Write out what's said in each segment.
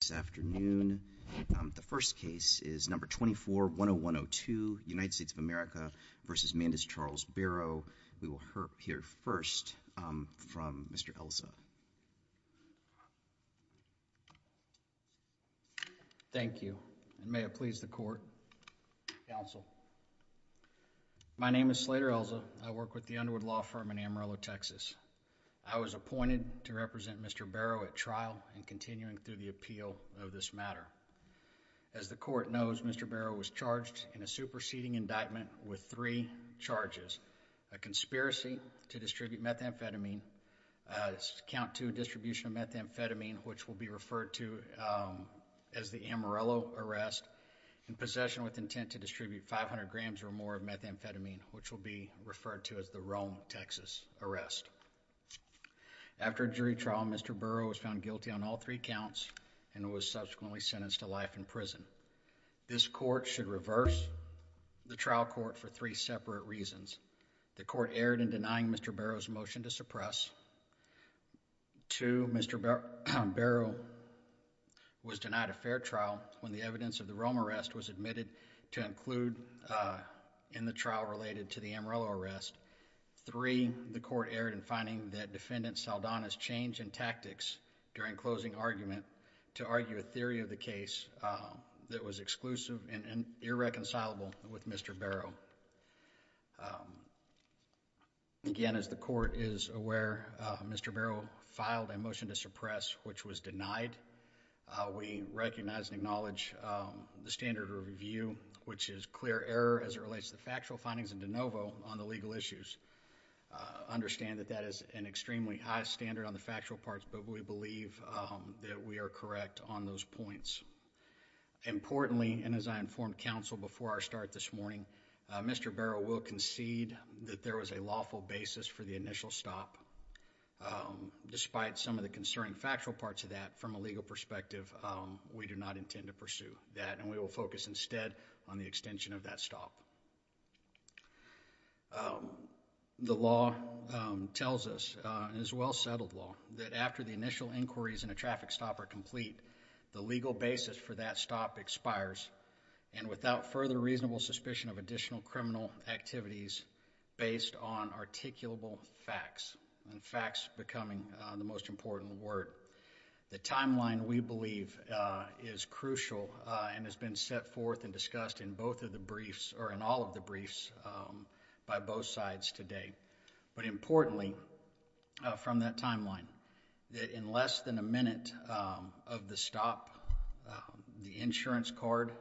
this afternoon. The first case is No. 24-10102, United States of America v. Mandis Charles Barrow. We will hear first from Mr. Elza. Thank you, and may it please the court, counsel. My name is Slater Elza. I work with the Underwood Law Firm in Amarillo, Texas. I was appointed to represent Mr. Barrow at trial and continuing through the appeal of this matter. As the court knows, Mr. Barrow was charged in a superseding indictment with three charges, a conspiracy to distribute methamphetamine, count two distribution of methamphetamine, which will be referred to as the Amarillo arrest, and possession with intent to distribute 500 grams or more of methamphetamine, which will be referred to as the Rome, Texas arrest. After jury trial, Mr. Barrow was found guilty on all three counts and was subsequently sentenced to life in prison. This court should reverse the trial court for three separate reasons. The court erred in denying Mr. Barrow's motion to suppress. Two, Mr. Barrow was denied a fair trial when the evidence of the Rome arrest was admitted to include in the trial related to the Amarillo arrest. Three, the court erred in finding that Defendant Saldana's change in tactics during closing argument to argue a theory of the case that was exclusive and irreconcilable with Mr. Barrow. Again, as the court is aware, Mr. Barrow filed a motion to suppress which was denied. We recognize and acknowledge the standard of review, which is clear error as it relates to factual findings and de novo on the legal issues. Understand that that is an extremely high standard on the factual parts, but we believe that we are correct on those points. Importantly, and as I informed counsel before our start this morning, Mr. Barrow will concede that there was a lawful basis for the initial stop. Despite some of the concerning factual parts of that, from a legal perspective, we do not intend to pursue that and we will focus instead on the extension of that stop. The law tells us, and it's a well settled law, that after the initial inquiries and a traffic stop are complete, the legal basis for that stop expires and without further reasonable suspicion of additional criminal activities based on articulable facts. Facts becoming the most important word. The timeline, we believe, is crucial and has been set forth and discussed in both of the briefs, or in all of the briefs, by both sides today. But importantly, from that timeline, that in less than a minute of the stop, the insurance card,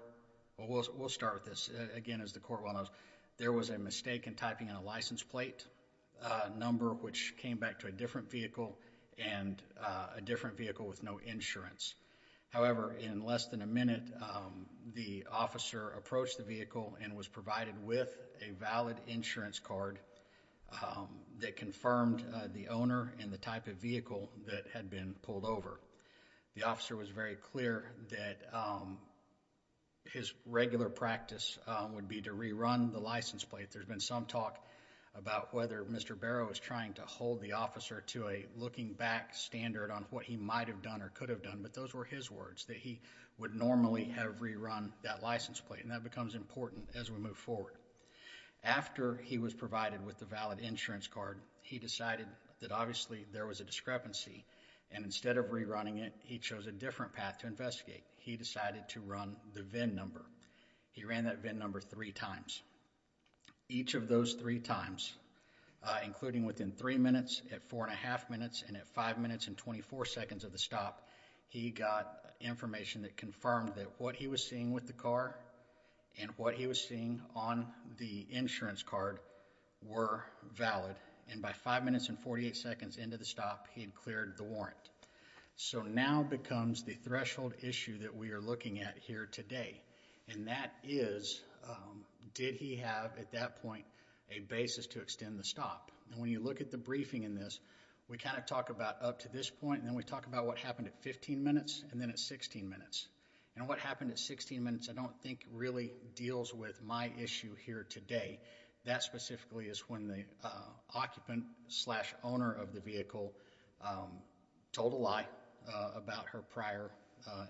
we'll start with this, again as the court will notice, there was a mistake in typing in a license plate number which came back to a different vehicle and a different vehicle with no insurance. However, in less than a minute, the officer approached the vehicle and was provided with a valid insurance card that confirmed the owner and the type of vehicle that had been pulled over. The officer was very clear that his regular practice would be to rerun the license plate. There's been some talk about whether Mr. Barrow was trying to hold the officer to a looking back standard on what he might have done or could have done, but those were his words, that he would normally have rerun that license plate and that becomes important as we move forward. After he was provided with the valid insurance card, he decided that obviously there was a discrepancy and instead of rerunning it, he chose a different path to investigate. He decided to run the VIN number. He ran that VIN number three times. Each of those three times, including within three minutes, at four and a half minutes, and at five minutes and twenty-four seconds of the stop, he got information that confirmed that what he was seeing with the car and what he was seeing on the insurance card were valid. And by five minutes and forty-eight seconds into the stop, he had cleared the warrant. So now becomes the threshold issue that we are looking at here today, and that is, did he have at that point a basis to extend the stop? And when you look at the briefing in this, we kind of talk about up to this point and then we talk about what happened at fifteen minutes and then at sixteen minutes. And what happened at sixteen minutes I don't think really deals with my issue here today. That specifically is when the occupant slash owner of the vehicle told a lie about her prior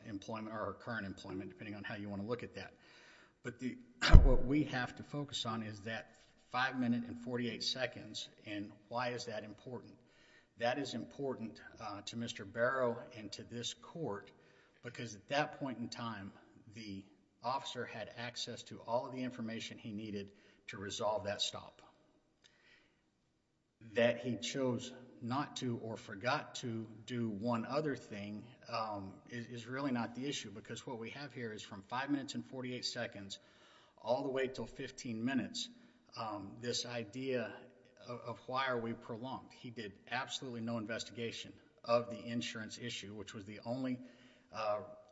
employment or her current employment, depending on how you want to look at that. But what we have to focus on is that five minutes and forty-eight seconds and why is that important. That is important to Mr. Barrow and to this court because at that point in time, the officer had access to all of the information he needed to resolve that stop. That he chose not to or forgot to do one other thing is really not the issue because what we have here is from five minutes and forty-eight seconds all the way until fifteen minutes, this idea of why are we prolonged. He did absolutely no investigation of the insurance issue, which was the only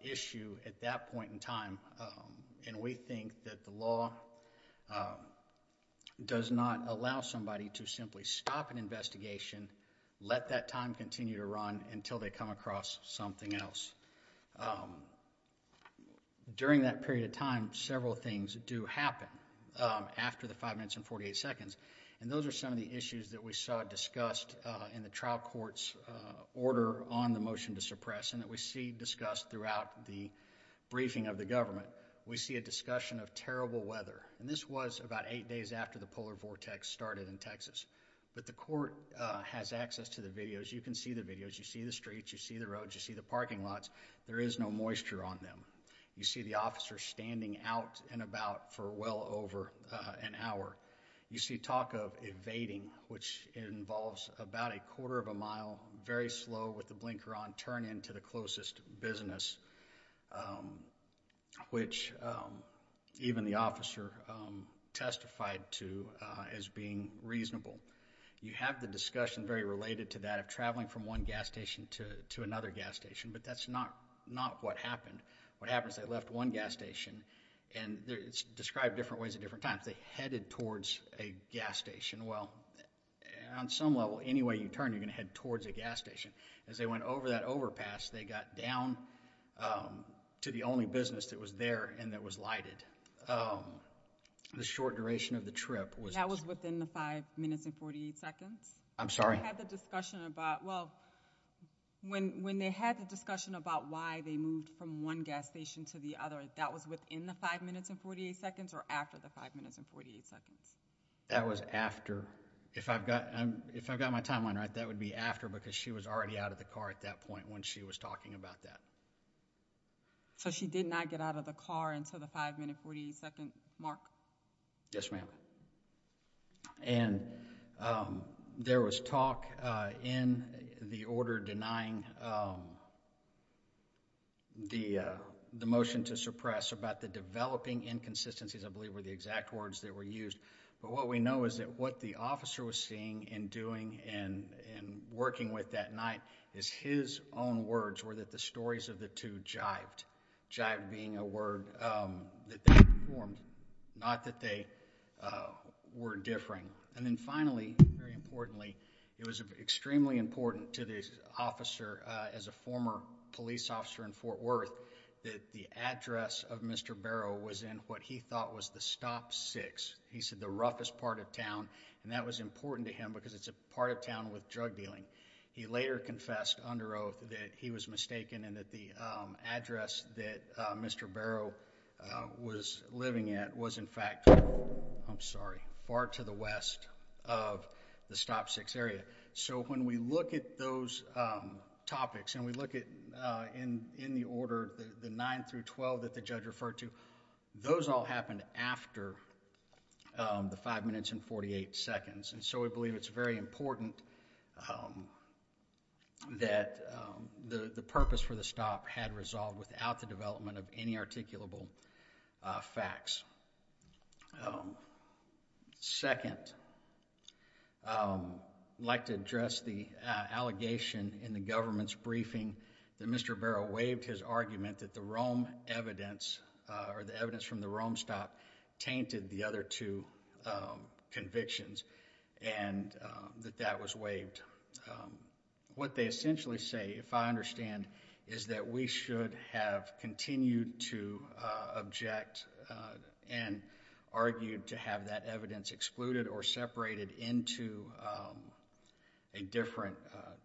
issue at that point in time and we think that the law does not allow somebody to simply stop an investigation, let that time continue to run until they come across something else. During that period of time, several things do happen after the five minutes and forty-eight seconds and those are some of the issues that we saw discussed in the press and that we see discussed throughout the briefing of the government. We see a discussion of terrible weather and this was about eight days after the polar vortex started in Texas. But the court has access to the videos. You can see the videos. You see the streets. You see the roads. You see the parking lots. There is no moisture on them. You see the officer standing out and about for well over an hour. You see talk of evading, which involves about a quarter of a mile, very slow, with the blinker on, turn into the closest business, which even the officer testified to as being reasonable. You have the discussion very related to that of traveling from one gas station to another gas station, but that is not what happened. What happens is they left one gas station and it is described different ways at different times. They headed towards a gas station. Well, on some level, any way you turn, you are going to head towards a gas station. As they went over that overpass, they got down to the only business that was there and that was lighted. The short duration of the trip was... That was within the five minutes and forty-eight seconds? I am sorry? They had the discussion about... well, when they had the discussion about why they moved from one gas station to the other, that was within the five minutes and forty-eight seconds or after the five minutes and forty-eight seconds? That was after. If I have got my timeline right, that would be after because she was already out of the car at that point when she was talking about that. So she did not get out of the car until the five minutes and forty-eight seconds mark? Yes, ma'am. And there was talk in the order denying the motion to suppress about the developing inconsistencies I believe were the exact words that were used. But what we know is that what the officer was seeing and doing and working with that night is his own words were that the stories of the two jived. Jive being a word that they performed, not that they were differing. And then finally, very importantly, it was extremely important to the officer as a former police officer in Fort Worth that the address of Mr. Barrow was in what he thought was the stop six. He said the roughest part of town and that was important to him because it is a part of town with drug dealing. He later confessed under oath that he was mistaken and that the address that Mr. Barrow was living at was in fact, I am sorry, far to the west of the stop six area. So when we look at those topics and we look at in the order, the nine through twelve that the judge referred to, those all happened after the five minutes and forty-eight seconds. So we believe it is very important that the purpose for the stop had resolved without the development of any articulable facts. Second, I would like to address the allegation in the government's briefing that Mr. Barrow waived his argument that the evidence from the Rome stop tainted the other two convictions and that that was waived. What they essentially say, if I understand, is that we should have continued to object and argued to have that evidence excluded or separated into a different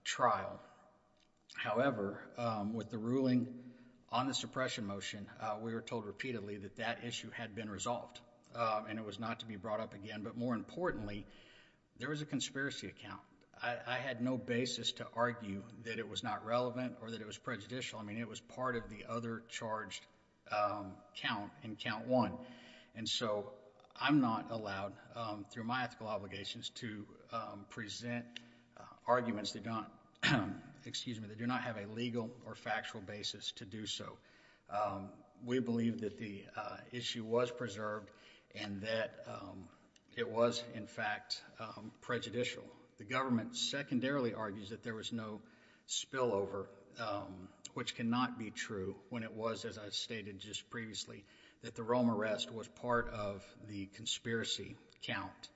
trial. However, with the ruling on the suppression motion, we were told repeatedly that that issue had been resolved and it was not to be brought up again. But more importantly, there was a conspiracy account. I had no basis to argue that it was not relevant or that it was prejudicial. I mean, it was part of the other charged count in count one. And so I'm not allowed, through my ethical obligations, to present arguments that do not have a legal or factual basis to do so. We believe that the issue was preserved and that it was, in fact, prejudicial. The government secondarily argues that there was no spillover, which cannot be true when it was, as I stated just previously, that the Rome arrest was part of the conspiracy count.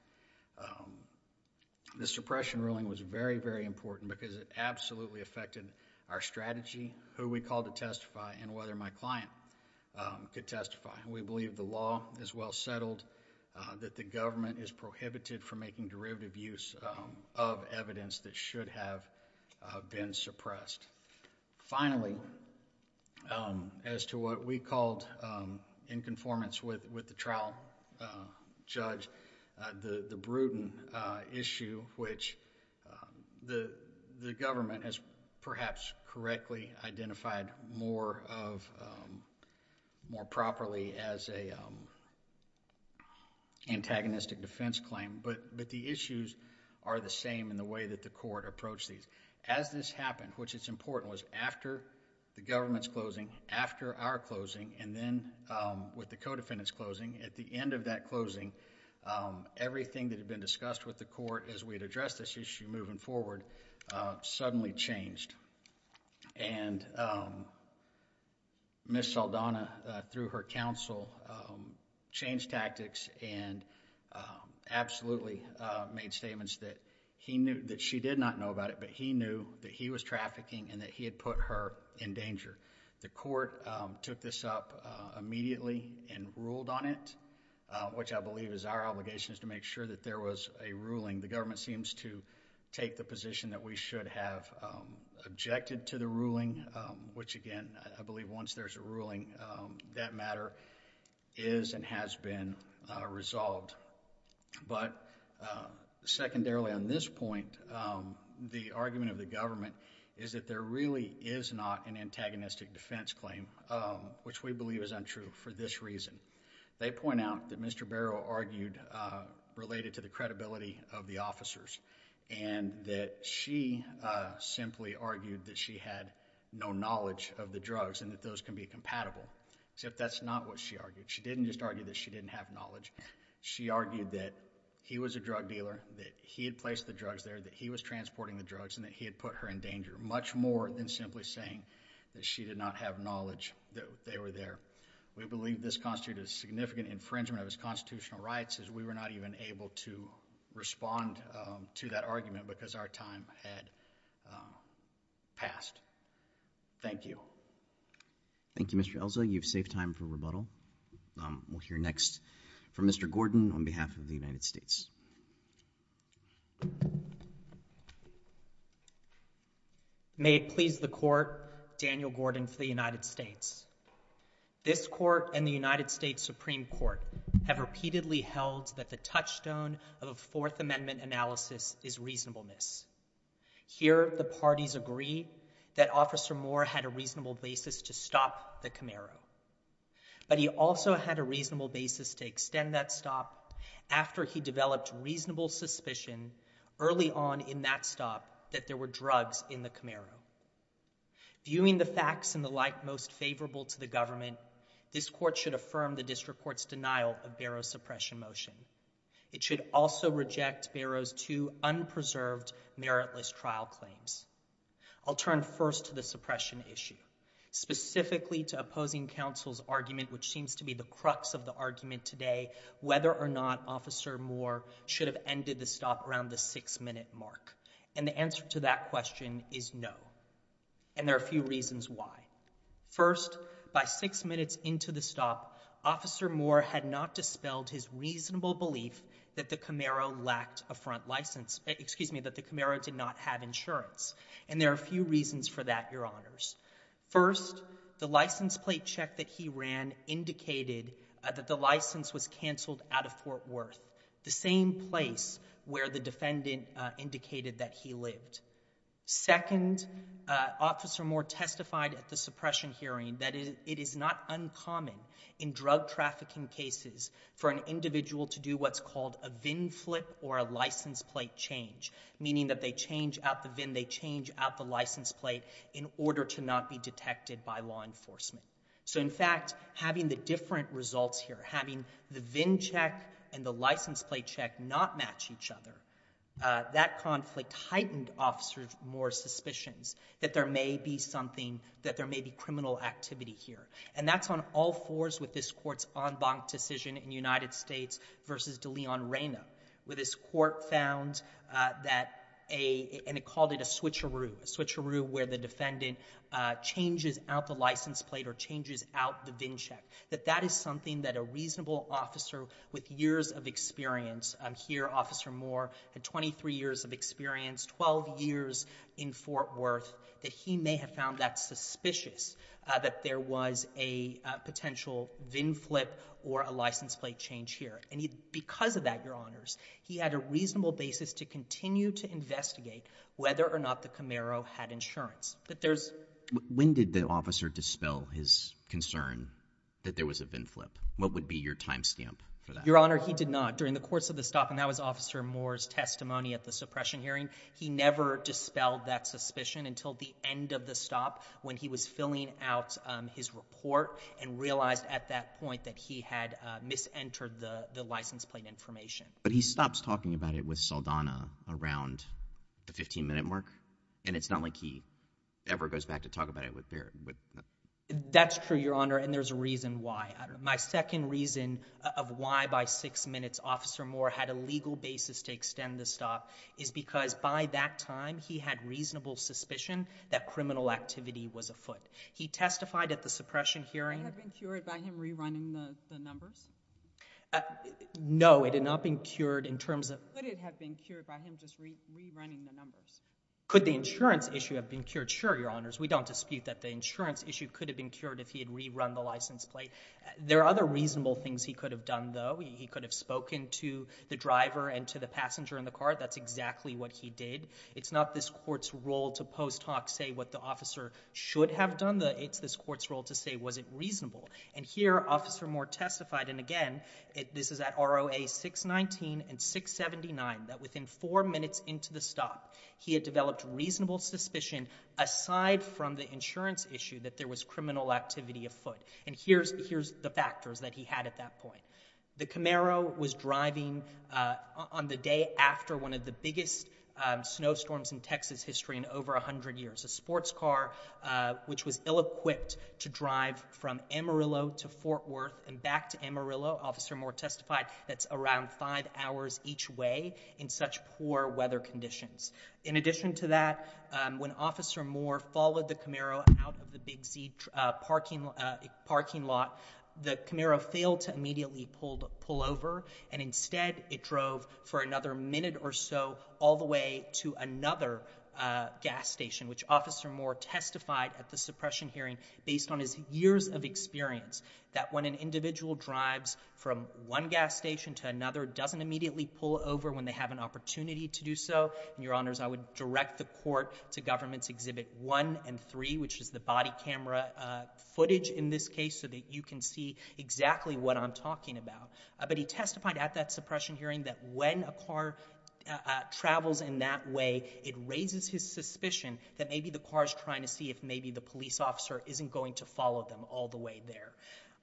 The suppression ruling was very, very important because it absolutely affected our strategy, who we called to testify, and whether my client could testify. We believe the law is well settled, that the government is prohibited from making derivative use of evidence that should have been suppressed. Finally, as to what we called, in conformance with the trial judge, the Bruton issue, which the government has perhaps correctly identified more of, more properly as an antagonistic defense claim, but the issues are the same in the way that the court approached these. As this happened, which is important, was after the government's closing, after our closing, and then with the co-defendant's closing, at the end of that closing, everything that had been discussed with the court as we had addressed this issue moving forward suddenly changed. Ms. Saldana, through her counsel, changed tactics and absolutely made statements that she did not know about it, but he knew that he was trafficking and that he had put her in danger. The court took this up immediately and ruled on it, which I believe is our obligation is to make sure that there was a ruling. The government seems to take the position that we should have objected to the ruling, which again, I believe once there's a ruling, that matter is and has been resolved, but secondarily on this point, the argument of the government is that there really is not an antagonistic defense claim, which we believe is untrue for this reason. They point out that Mr. Barrow argued, related to the credibility of the officers, and that she simply argued that she had no knowledge of the drugs and that those can be compatible, except that's not what she argued. She didn't just argue that she didn't have knowledge. She argued that he was a drug dealer, that he had placed the drugs there, that he was transporting the drugs, and that he had put her in danger, much more than simply saying that she did not have knowledge that they were there. We believe this constituted a significant infringement of his constitutional rights as we were not even able to respond to that argument because our time had passed. Thank you. Thank you, Mr. Elza. You've saved time for rebuttal. We'll hear next from Mr. Gordon on behalf of the United States. May it please the Court, Daniel Gordon for the United States. This Court and the United States Supreme Court have repeatedly held that the touchstone of a Fourth Amendment analysis is reasonableness. Here, the parties agree that Officer Moore had a reasonable basis to stop the Camaro, but he also had a reasonable basis to extend that stop after he developed reasonable suspicion early on in that stop that there were drugs in the Camaro. Viewing the facts and the like most favorable to the government, this Court should affirm the district court's denial of Barrow's suppression motion. It should also reject Barrow's two unpreserved, meritless trial claims. I'll turn first to the suppression issue, specifically to opposing counsel's argument, which seems to be the crux of the argument today, whether or not Officer Moore should have ended the stop around the six-minute mark. And the answer to that question is no. And there are a few reasons why. First, by six minutes into the stop, Officer Moore had not dispelled his reasonable belief that the Camaro lacked a front license, excuse me, that the Camaro did not have insurance. And there are a few reasons for that, Your Honors. First, the license plate check that he ran indicated that the license was canceled out of Fort Worth, the same place where the defendant indicated that he lived. Second, Officer Moore testified at the suppression hearing that it is not uncommon in drug trafficking cases for an individual to do what's called a VIN flip or a license plate change, meaning that they change out the VIN, they change out the license plate in order to not be detected by law enforcement. So, in fact, having the different results here, having the VIN check and the license plate check not match each other, that conflict heightened Officer Moore's suspicions that there may be something, that there may be criminal activity here. And that's on all fours with this Court's en banc decision in United States versus De Leon-Reyna, where this Court found that a, and it called it a switcheroo, a switcheroo where the defendant changes out the license plate or changes out the VIN check, that that is something that a reasonable officer with years of experience, here Officer Moore had 23 years of experience, 12 years in Fort Worth, that he may have found that suspicious, that there was a potential VIN flip or a license plate change here. And because of that, Your Honors, he had a reasonable basis to continue to investigate whether or not the Camaro had insurance. But there's... When did the officer dispel his concern that there was a VIN flip? What would be your time stamp for that? Your Honor, he did not. During the course of the stop, and that was Officer Moore's testimony at the suppression hearing, he never dispelled that suspicion until the end of the stop when he was filling out his report and realized at that point that he had mis-entered the license plate information. But he stops talking about it with Saldana around the 15-minute mark, and it's not like he ever goes back to talk about it with Barrett. That's true, Your Honor, and there's a reason why. My second reason of why by six minutes Officer Moore had a legal basis to extend the stop is because by that time, he had reasonable suspicion that criminal activity was afoot. He testified at the suppression hearing... Had that been cured by him rerunning the numbers? No, it had not been cured in terms of... Could it have been cured by him just rerunning the numbers? Could the insurance issue have been cured? Sure, Your Honors. We don't dispute that the insurance issue could have been cured if he had rerun the license plate. There are other reasonable things he could have done, though. He could have spoken to the driver and to the passenger in the car. That's exactly what he did. It's not this Court's role to post-talk, say what the officer should have done. It's this Court's role to say, was it reasonable? And here, Officer Moore testified, and again, this is at ROA 619 and 679, that within four minutes into the stop, he had developed reasonable suspicion, aside from the insurance issue, that there was criminal activity afoot. And here's the factors that he had at that point. The Camaro was driving on the day after one of the biggest snowstorms in Texas history in over 100 years. A sports car, which was ill-equipped to drive from Amarillo to Fort Worth and back to Amarillo, Officer Moore testified, that's around five hours each way in such poor weather conditions. In addition to that, when Officer Moore followed the Camaro out of the Big Z parking lot, the Camaro failed to immediately pull over, and instead it drove for another minute or so all the way to another gas station, which Officer Moore testified at the suppression hearing, based on his years of experience, that when an individual drives from one gas station to another, it doesn't immediately pull over when they have an opportunity to do so. And Your Honors, I would direct the Court to Governments Exhibit 1 and 3, which is the body camera footage in this case, so that you can see exactly what I'm talking about. But he testified at that suppression hearing that when a car travels in that way, it raises his suspicion that maybe the car's trying to see if maybe the police officer isn't going to follow them all the way there.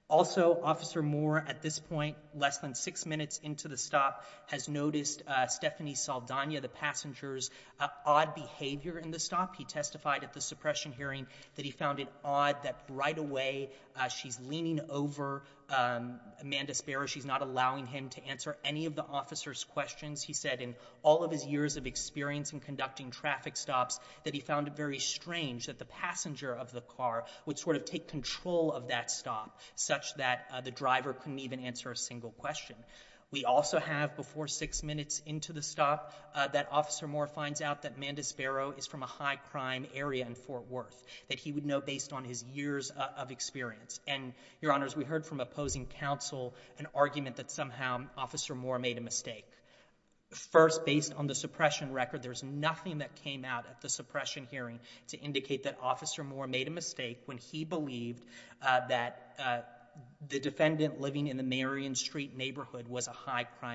Also, Officer Moore, at this point, less than six minutes into the stop, has noticed Stephanie Saldana, the passenger's, odd behavior in the stop. He testified at the suppression hearing that he found it odd that right away she's leaning over Amanda Sparrow. She's not allowing him to answer any of the officer's questions. He said in all of his years of experience in conducting traffic stops that he found it very strange that the passenger of the car would sort of take control of that stop such that the driver couldn't even answer a single question. We also have, before six minutes into the stop, that Officer Moore finds out that Amanda Sparrow is from a high crime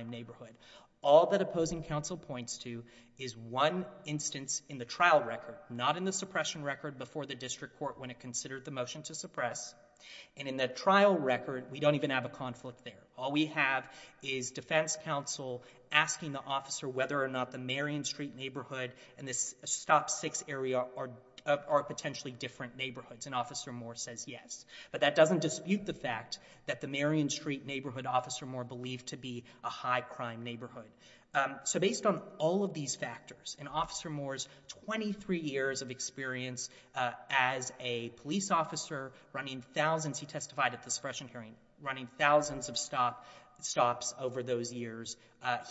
neighborhood. All that opposing counsel points to is one instance in the trial record, not in the suppression record before the district court when it considered the motion to suppress. And in the trial record, we don't even have a conflict there. All we have is defense counsel asking the officer whether or not the Marion Street neighborhood and this stop six area are potentially different neighborhoods. And Officer Moore says yes. But that doesn't dispute the fact that the Marion Street neighborhood, Officer Moore believed to be a high crime neighborhood. So based on all of these factors, in Officer Moore's three years of experience as a police officer running thousands, he testified at the suppression hearing, running thousands of stops over those years,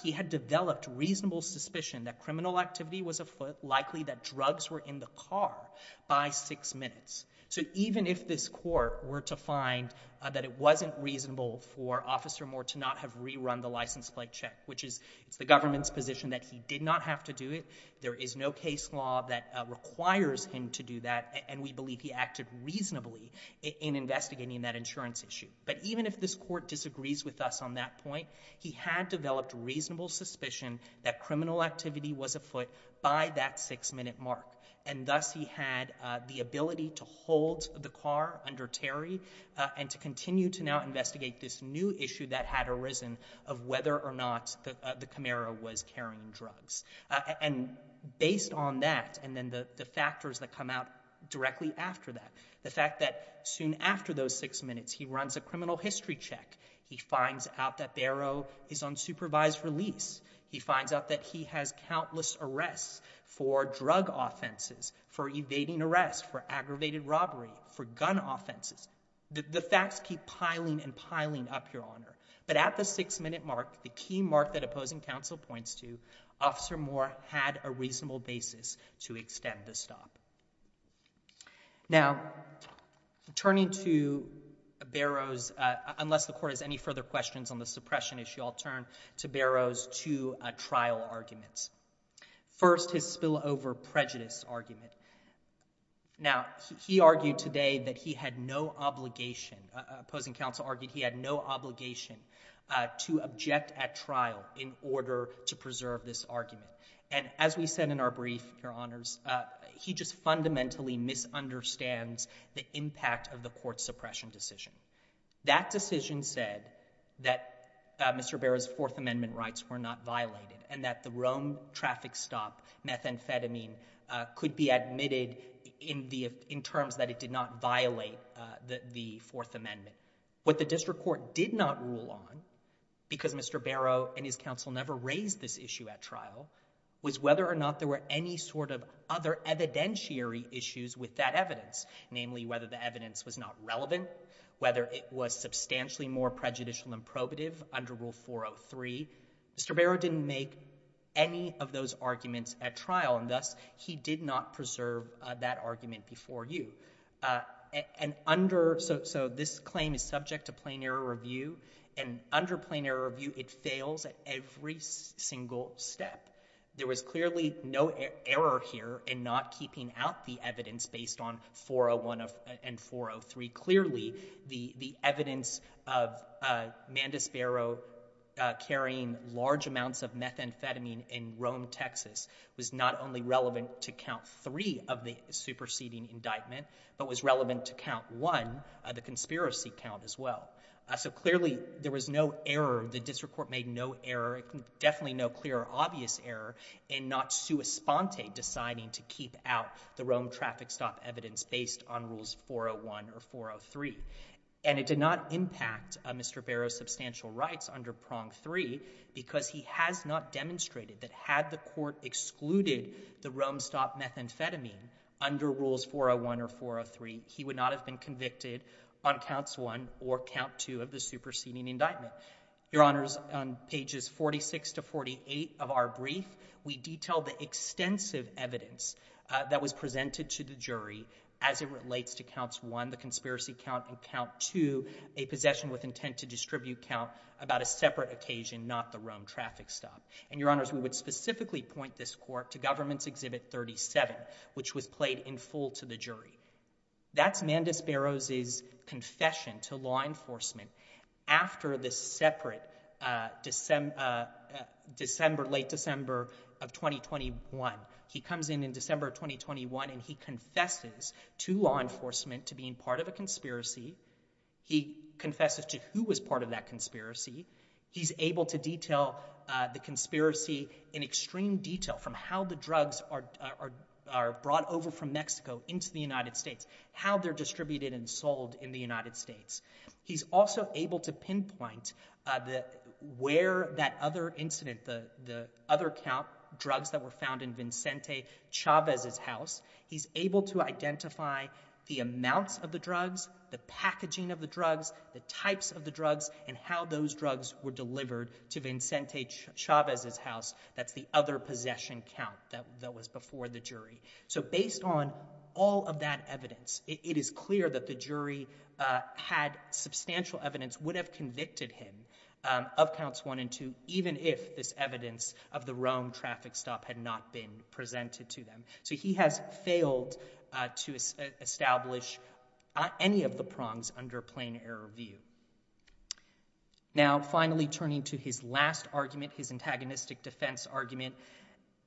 he had developed reasonable suspicion that criminal activity was likely that drugs were in the car by six minutes. So even if this court were to find that it wasn't reasonable for Officer Moore to not have rerun the license plate check, which is the government's position that he did not have to do it, there is no case law that requires him to do that, and we believe he acted reasonably in investigating that insurance issue. But even if this court disagrees with us on that point, he had developed reasonable suspicion that criminal activity was afoot by that six-minute mark. And thus he had the ability to hold the car under Terry and to continue to now investigate this new issue that had arisen of whether or not the Camaro was carrying drugs. And based on that, and then the factors that come out directly after that, the fact that soon after those six minutes he runs a criminal history check, he finds out that Barrow is on supervised release, he finds out that he has countless arrests for drug offenses, for evading arrest, for aggravated robbery, for gun offenses. The facts keep piling and piling up, Your Honor. But at the six-minute mark, the key mark that the opposing counsel points to, Officer Moore had a reasonable basis to extend the stop. Now, turning to Barrow's, unless the court has any further questions on the suppression issue, I'll turn to Barrow's two trial arguments. First, his spillover prejudice argument. Now, he argued today that he had no obligation, opposing counsel argued he had no obligation to object at trial in order to preserve this argument. And as we said in our brief, Your Honors, he just fundamentally misunderstands the impact of the court's suppression decision. That decision said that Mr. Barrow's Fourth Amendment rights were not violated and that the Rome traffic stop methamphetamine could be admitted in terms that it did not violate the Fourth Amendment. What the district court did not rule on, because Mr. Barrow and his counsel never raised this issue at trial, was whether or not there were any sort of other evidentiary issues with that evidence, namely whether the evidence was not relevant, whether it was substantially more prejudicial than probative under Rule 403. Mr. Barrow didn't make any of those arguments at trial, and thus he did not preserve that argument before you. So this claim is subject to plain error review, and under plain error review it fails at every single step. There was clearly no error here in not keeping out the evidence based on 401 and 403. Clearly the evidence of Mandis Barrow carrying large amounts of methamphetamine was not relevant to the proceeding indictment, but was relevant to count 1, the conspiracy count as well. So clearly there was no error, the district court made no error, definitely no clear or obvious error, in not sua sponte deciding to keep out the Rome traffic stop evidence based on Rules 401 or 403. And it did not impact Mr. Barrow's substantial rights under Prong 3, because he has not demonstrated that had the court excluded the Rome stop methamphetamine under Rules 401 or 403, he would not have been convicted on counts 1 or count 2 of the superseding indictment. Your Honors, on pages 46 to 48 of our brief, we detail the extensive evidence that was presented to the jury as it relates to counts 1, the conspiracy count, and count 2, a possession with intent to distribute count about a separate occasion, not the Rome traffic stop. And Your Honors, we would specifically point this court to Government's Exhibit 37, which was played in full to the jury. That's Mandus Barrow's confession to law enforcement after this separate December, late December of 2021. He comes in in December of 2021 and he confesses to law enforcement to being part of a conspiracy. He confesses to who was part of that conspiracy. He's able to detail the conspiracy in extreme detail from how the drugs are brought over from Mexico into the United States, how they're distributed and sold in the United States. He's also able to pinpoint where that other incident, the other drugs that were found in Vincente Chavez's house. He's able to identify the amounts of the drugs, the packaging of the drugs, the types of the drugs, and how those drugs were delivered to Vincente Chavez's house. That's the other possession count that was before the jury. So based on all of that evidence, it is clear that the jury had substantial evidence, would have convicted him of counts 1 and 2, even if this evidence of the Rome traffic stop had not been presented to them. So he has failed to establish any of the prongs under plain error view. Now, finally, turning to his last argument, his antagonistic defense argument,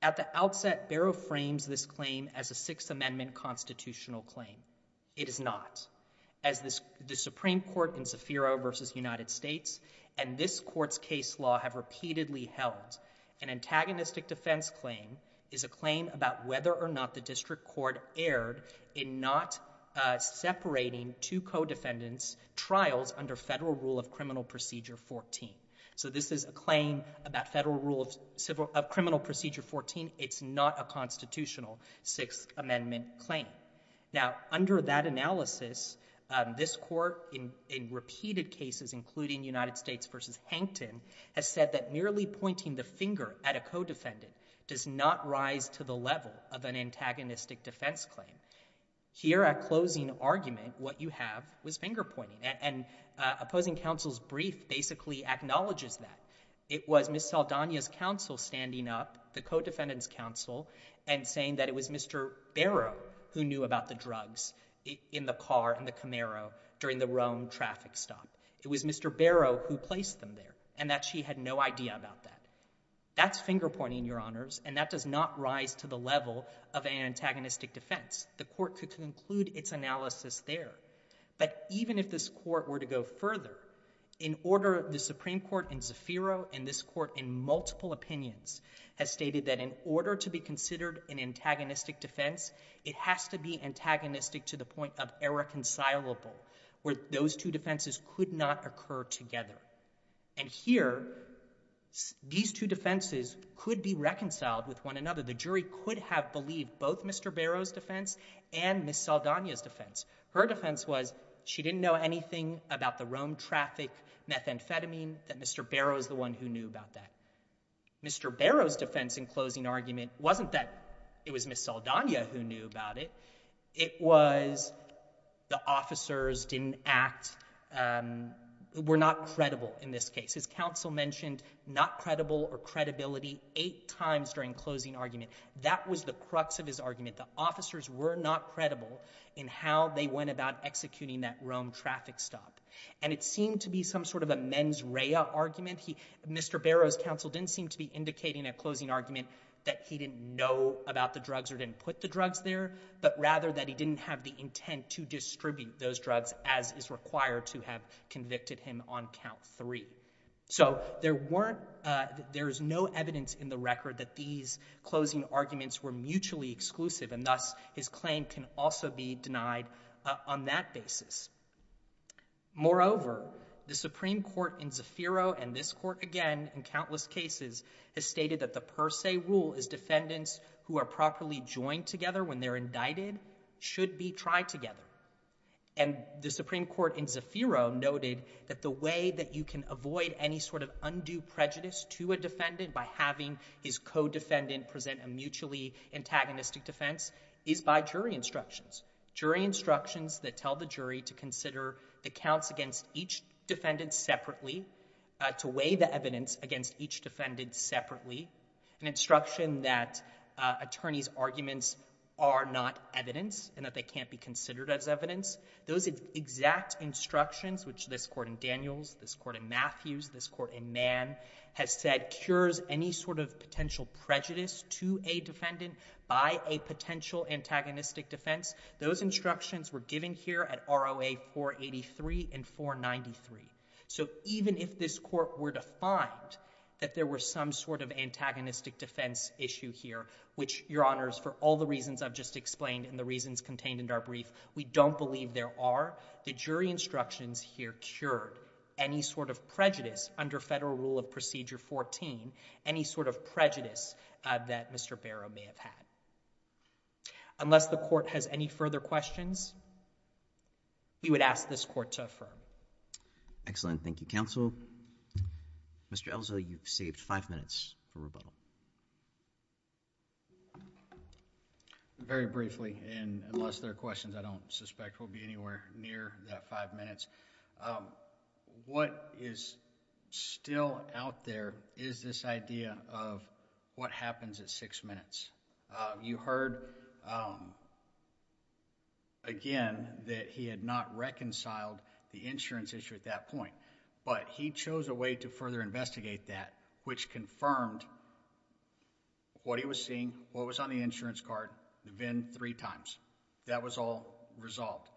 at the outset, Barrow frames this claim as a Sixth Amendment constitutional claim. It is not. As the Supreme Court in Zafiro versus United States and this court's case law have repeatedly held, an antagonistic defense claim is a claim about whether or not the district court erred in not separating two co-defendants' trials under federal rule of criminal procedure 14. So this is a claim about federal rule of criminal procedure 14. It's not a constitutional Sixth Amendment claim. Now, under that analysis, this court in repeated cases, including United States versus Hankton, has said that merely pointing the finger at a co-defendant does not rise to the level of an antagonistic defense claim. Here at closing argument, what you have was finger pointing. And opposing counsel's brief basically acknowledges that. It was Ms. Saldana's counsel standing up, the co-defendant's counsel, and saying that it was Mr. Barrow who knew about the drugs in the car, in the Camaro, during the Rome traffic stop. It was Mr. Barrow who placed them there, and that she had no idea about that. That's finger pointing, Your Honors, and that does not rise to the level of an antagonistic defense. The court could conclude its analysis there. But even if this court were to go further, in order, the Supreme Court in Zafiro and this court in multiple opinions has stated that in order to be considered an antagonistic defense, it has to be antagonistic to the point of irreconcilable, where those two defenses could not occur together. And here, these two defenses could be reconciled with one another. The jury could have believed both Mr. Barrow's defense and Ms. Saldana's defense. Her defense was she didn't know anything about the Rome traffic methamphetamine, that Mr. Barrow is the one who knew about that. Mr. Barrow's defense in closing argument wasn't that it was Ms. Saldana who knew about it. It was the officers didn't act, were not credible in this case. His counsel mentioned not credible or credibility eight times during closing argument. That was the crux of his argument. The officers were not credible in how they went about executing that Rome traffic stop. And it seemed to be some sort of a mens rea argument. Mr. Barrow's counsel didn't seem to be indicating a closing argument that he didn't know about the drugs or didn't put the drugs there, but rather that he didn't have the intent to distribute those drugs as is required to have convicted him on count three. So there weren't, uh, there is no evidence in the record that these closing arguments were mutually exclusive and thus his claim can also be denied on that basis. Moreover, the Supreme Court in Zafiro and this court again in countless cases has stated that the per se rule is defendants who are properly joined together when they're indicted should be tried together. And the Supreme Court in Zafiro noted that the way that you can avoid any sort of undue prejudice to a defendant by having his co-defendant present a mutually antagonistic defense is by jury instructions. Jury instructions that tell the jury to consider the counts against each defendant separately, uh, to weigh the evidence against each defendant separately. An instruction that, uh, attorney's arguments are not evidence and that they can't be considered as evidence. Those exact instructions, which this court in Daniels, this court in Matthews, this court in Mann has said cures any sort of potential prejudice to a defendant by a potential antagonistic defense. Those instructions were given here at ROA 483 and 493. So even if this court were to find that there were some sort of antagonistic defense issue here, which your honors, for all the reasons I've just explained and the reasons contained in our brief, we don't believe there are the jury instructions here cured any sort of prejudice under federal rule of procedure 14, any sort of prejudice that Mr. Barrow may have had. Unless the court has any further questions, we would ask this court to affirm the instructions. Excellent. Thank you, counsel. Mr. Elzo, you've saved five minutes for rebuttal. Very briefly, and unless there are questions, I don't suspect we'll be anywhere near that five minutes. Um, what is still out there is this idea of what happens at six minutes. You heard, um, again, that he had not reconciled the insurance issue at that point, but he chose a way to further investigate that, which confirmed what he was seeing, what was on the insurance card, the VIN three times. That was all resolved.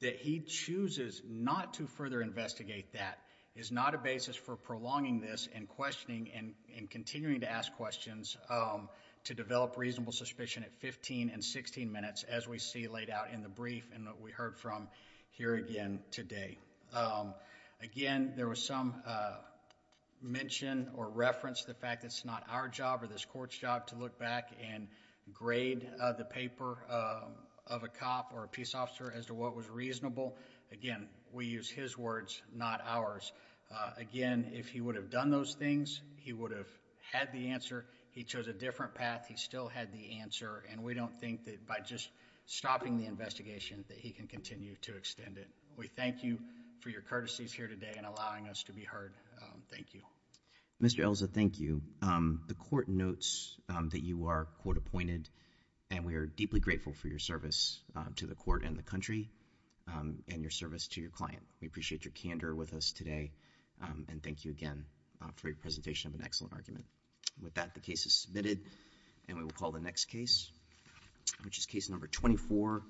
That he chooses not to further investigate that is not a basis for prolonging this and questioning and continuing to ask questions, um, to develop reasonable suspicion at 15 and 16 minutes as we see laid out in the brief and what we heard from here again today. Um, again, there was some, uh, mention or reference to the fact that it's not our job or this court's job to look back and grade the paper, um, of a cop or a peace officer as to what was reasonable. Again, we use his words, not ours. Uh, again, if he would have done those things, he would have had the answer. He chose a different path. He still had the answer and we don't think that by just stopping the investigation that he can continue to extend it. We thank you for your courtesies here today and allowing us to be heard. Um, thank you, Mr. Elsa. Thank you. Um, the court notes that you are quote appointed and we are deeply grateful for your service to the court and the country, um, and your service to your client. We appreciate your candor with us today. Um, and thank you again for your presentation of an excellent argument. With that, the case is submitted and we will call the next case, which is case number 24.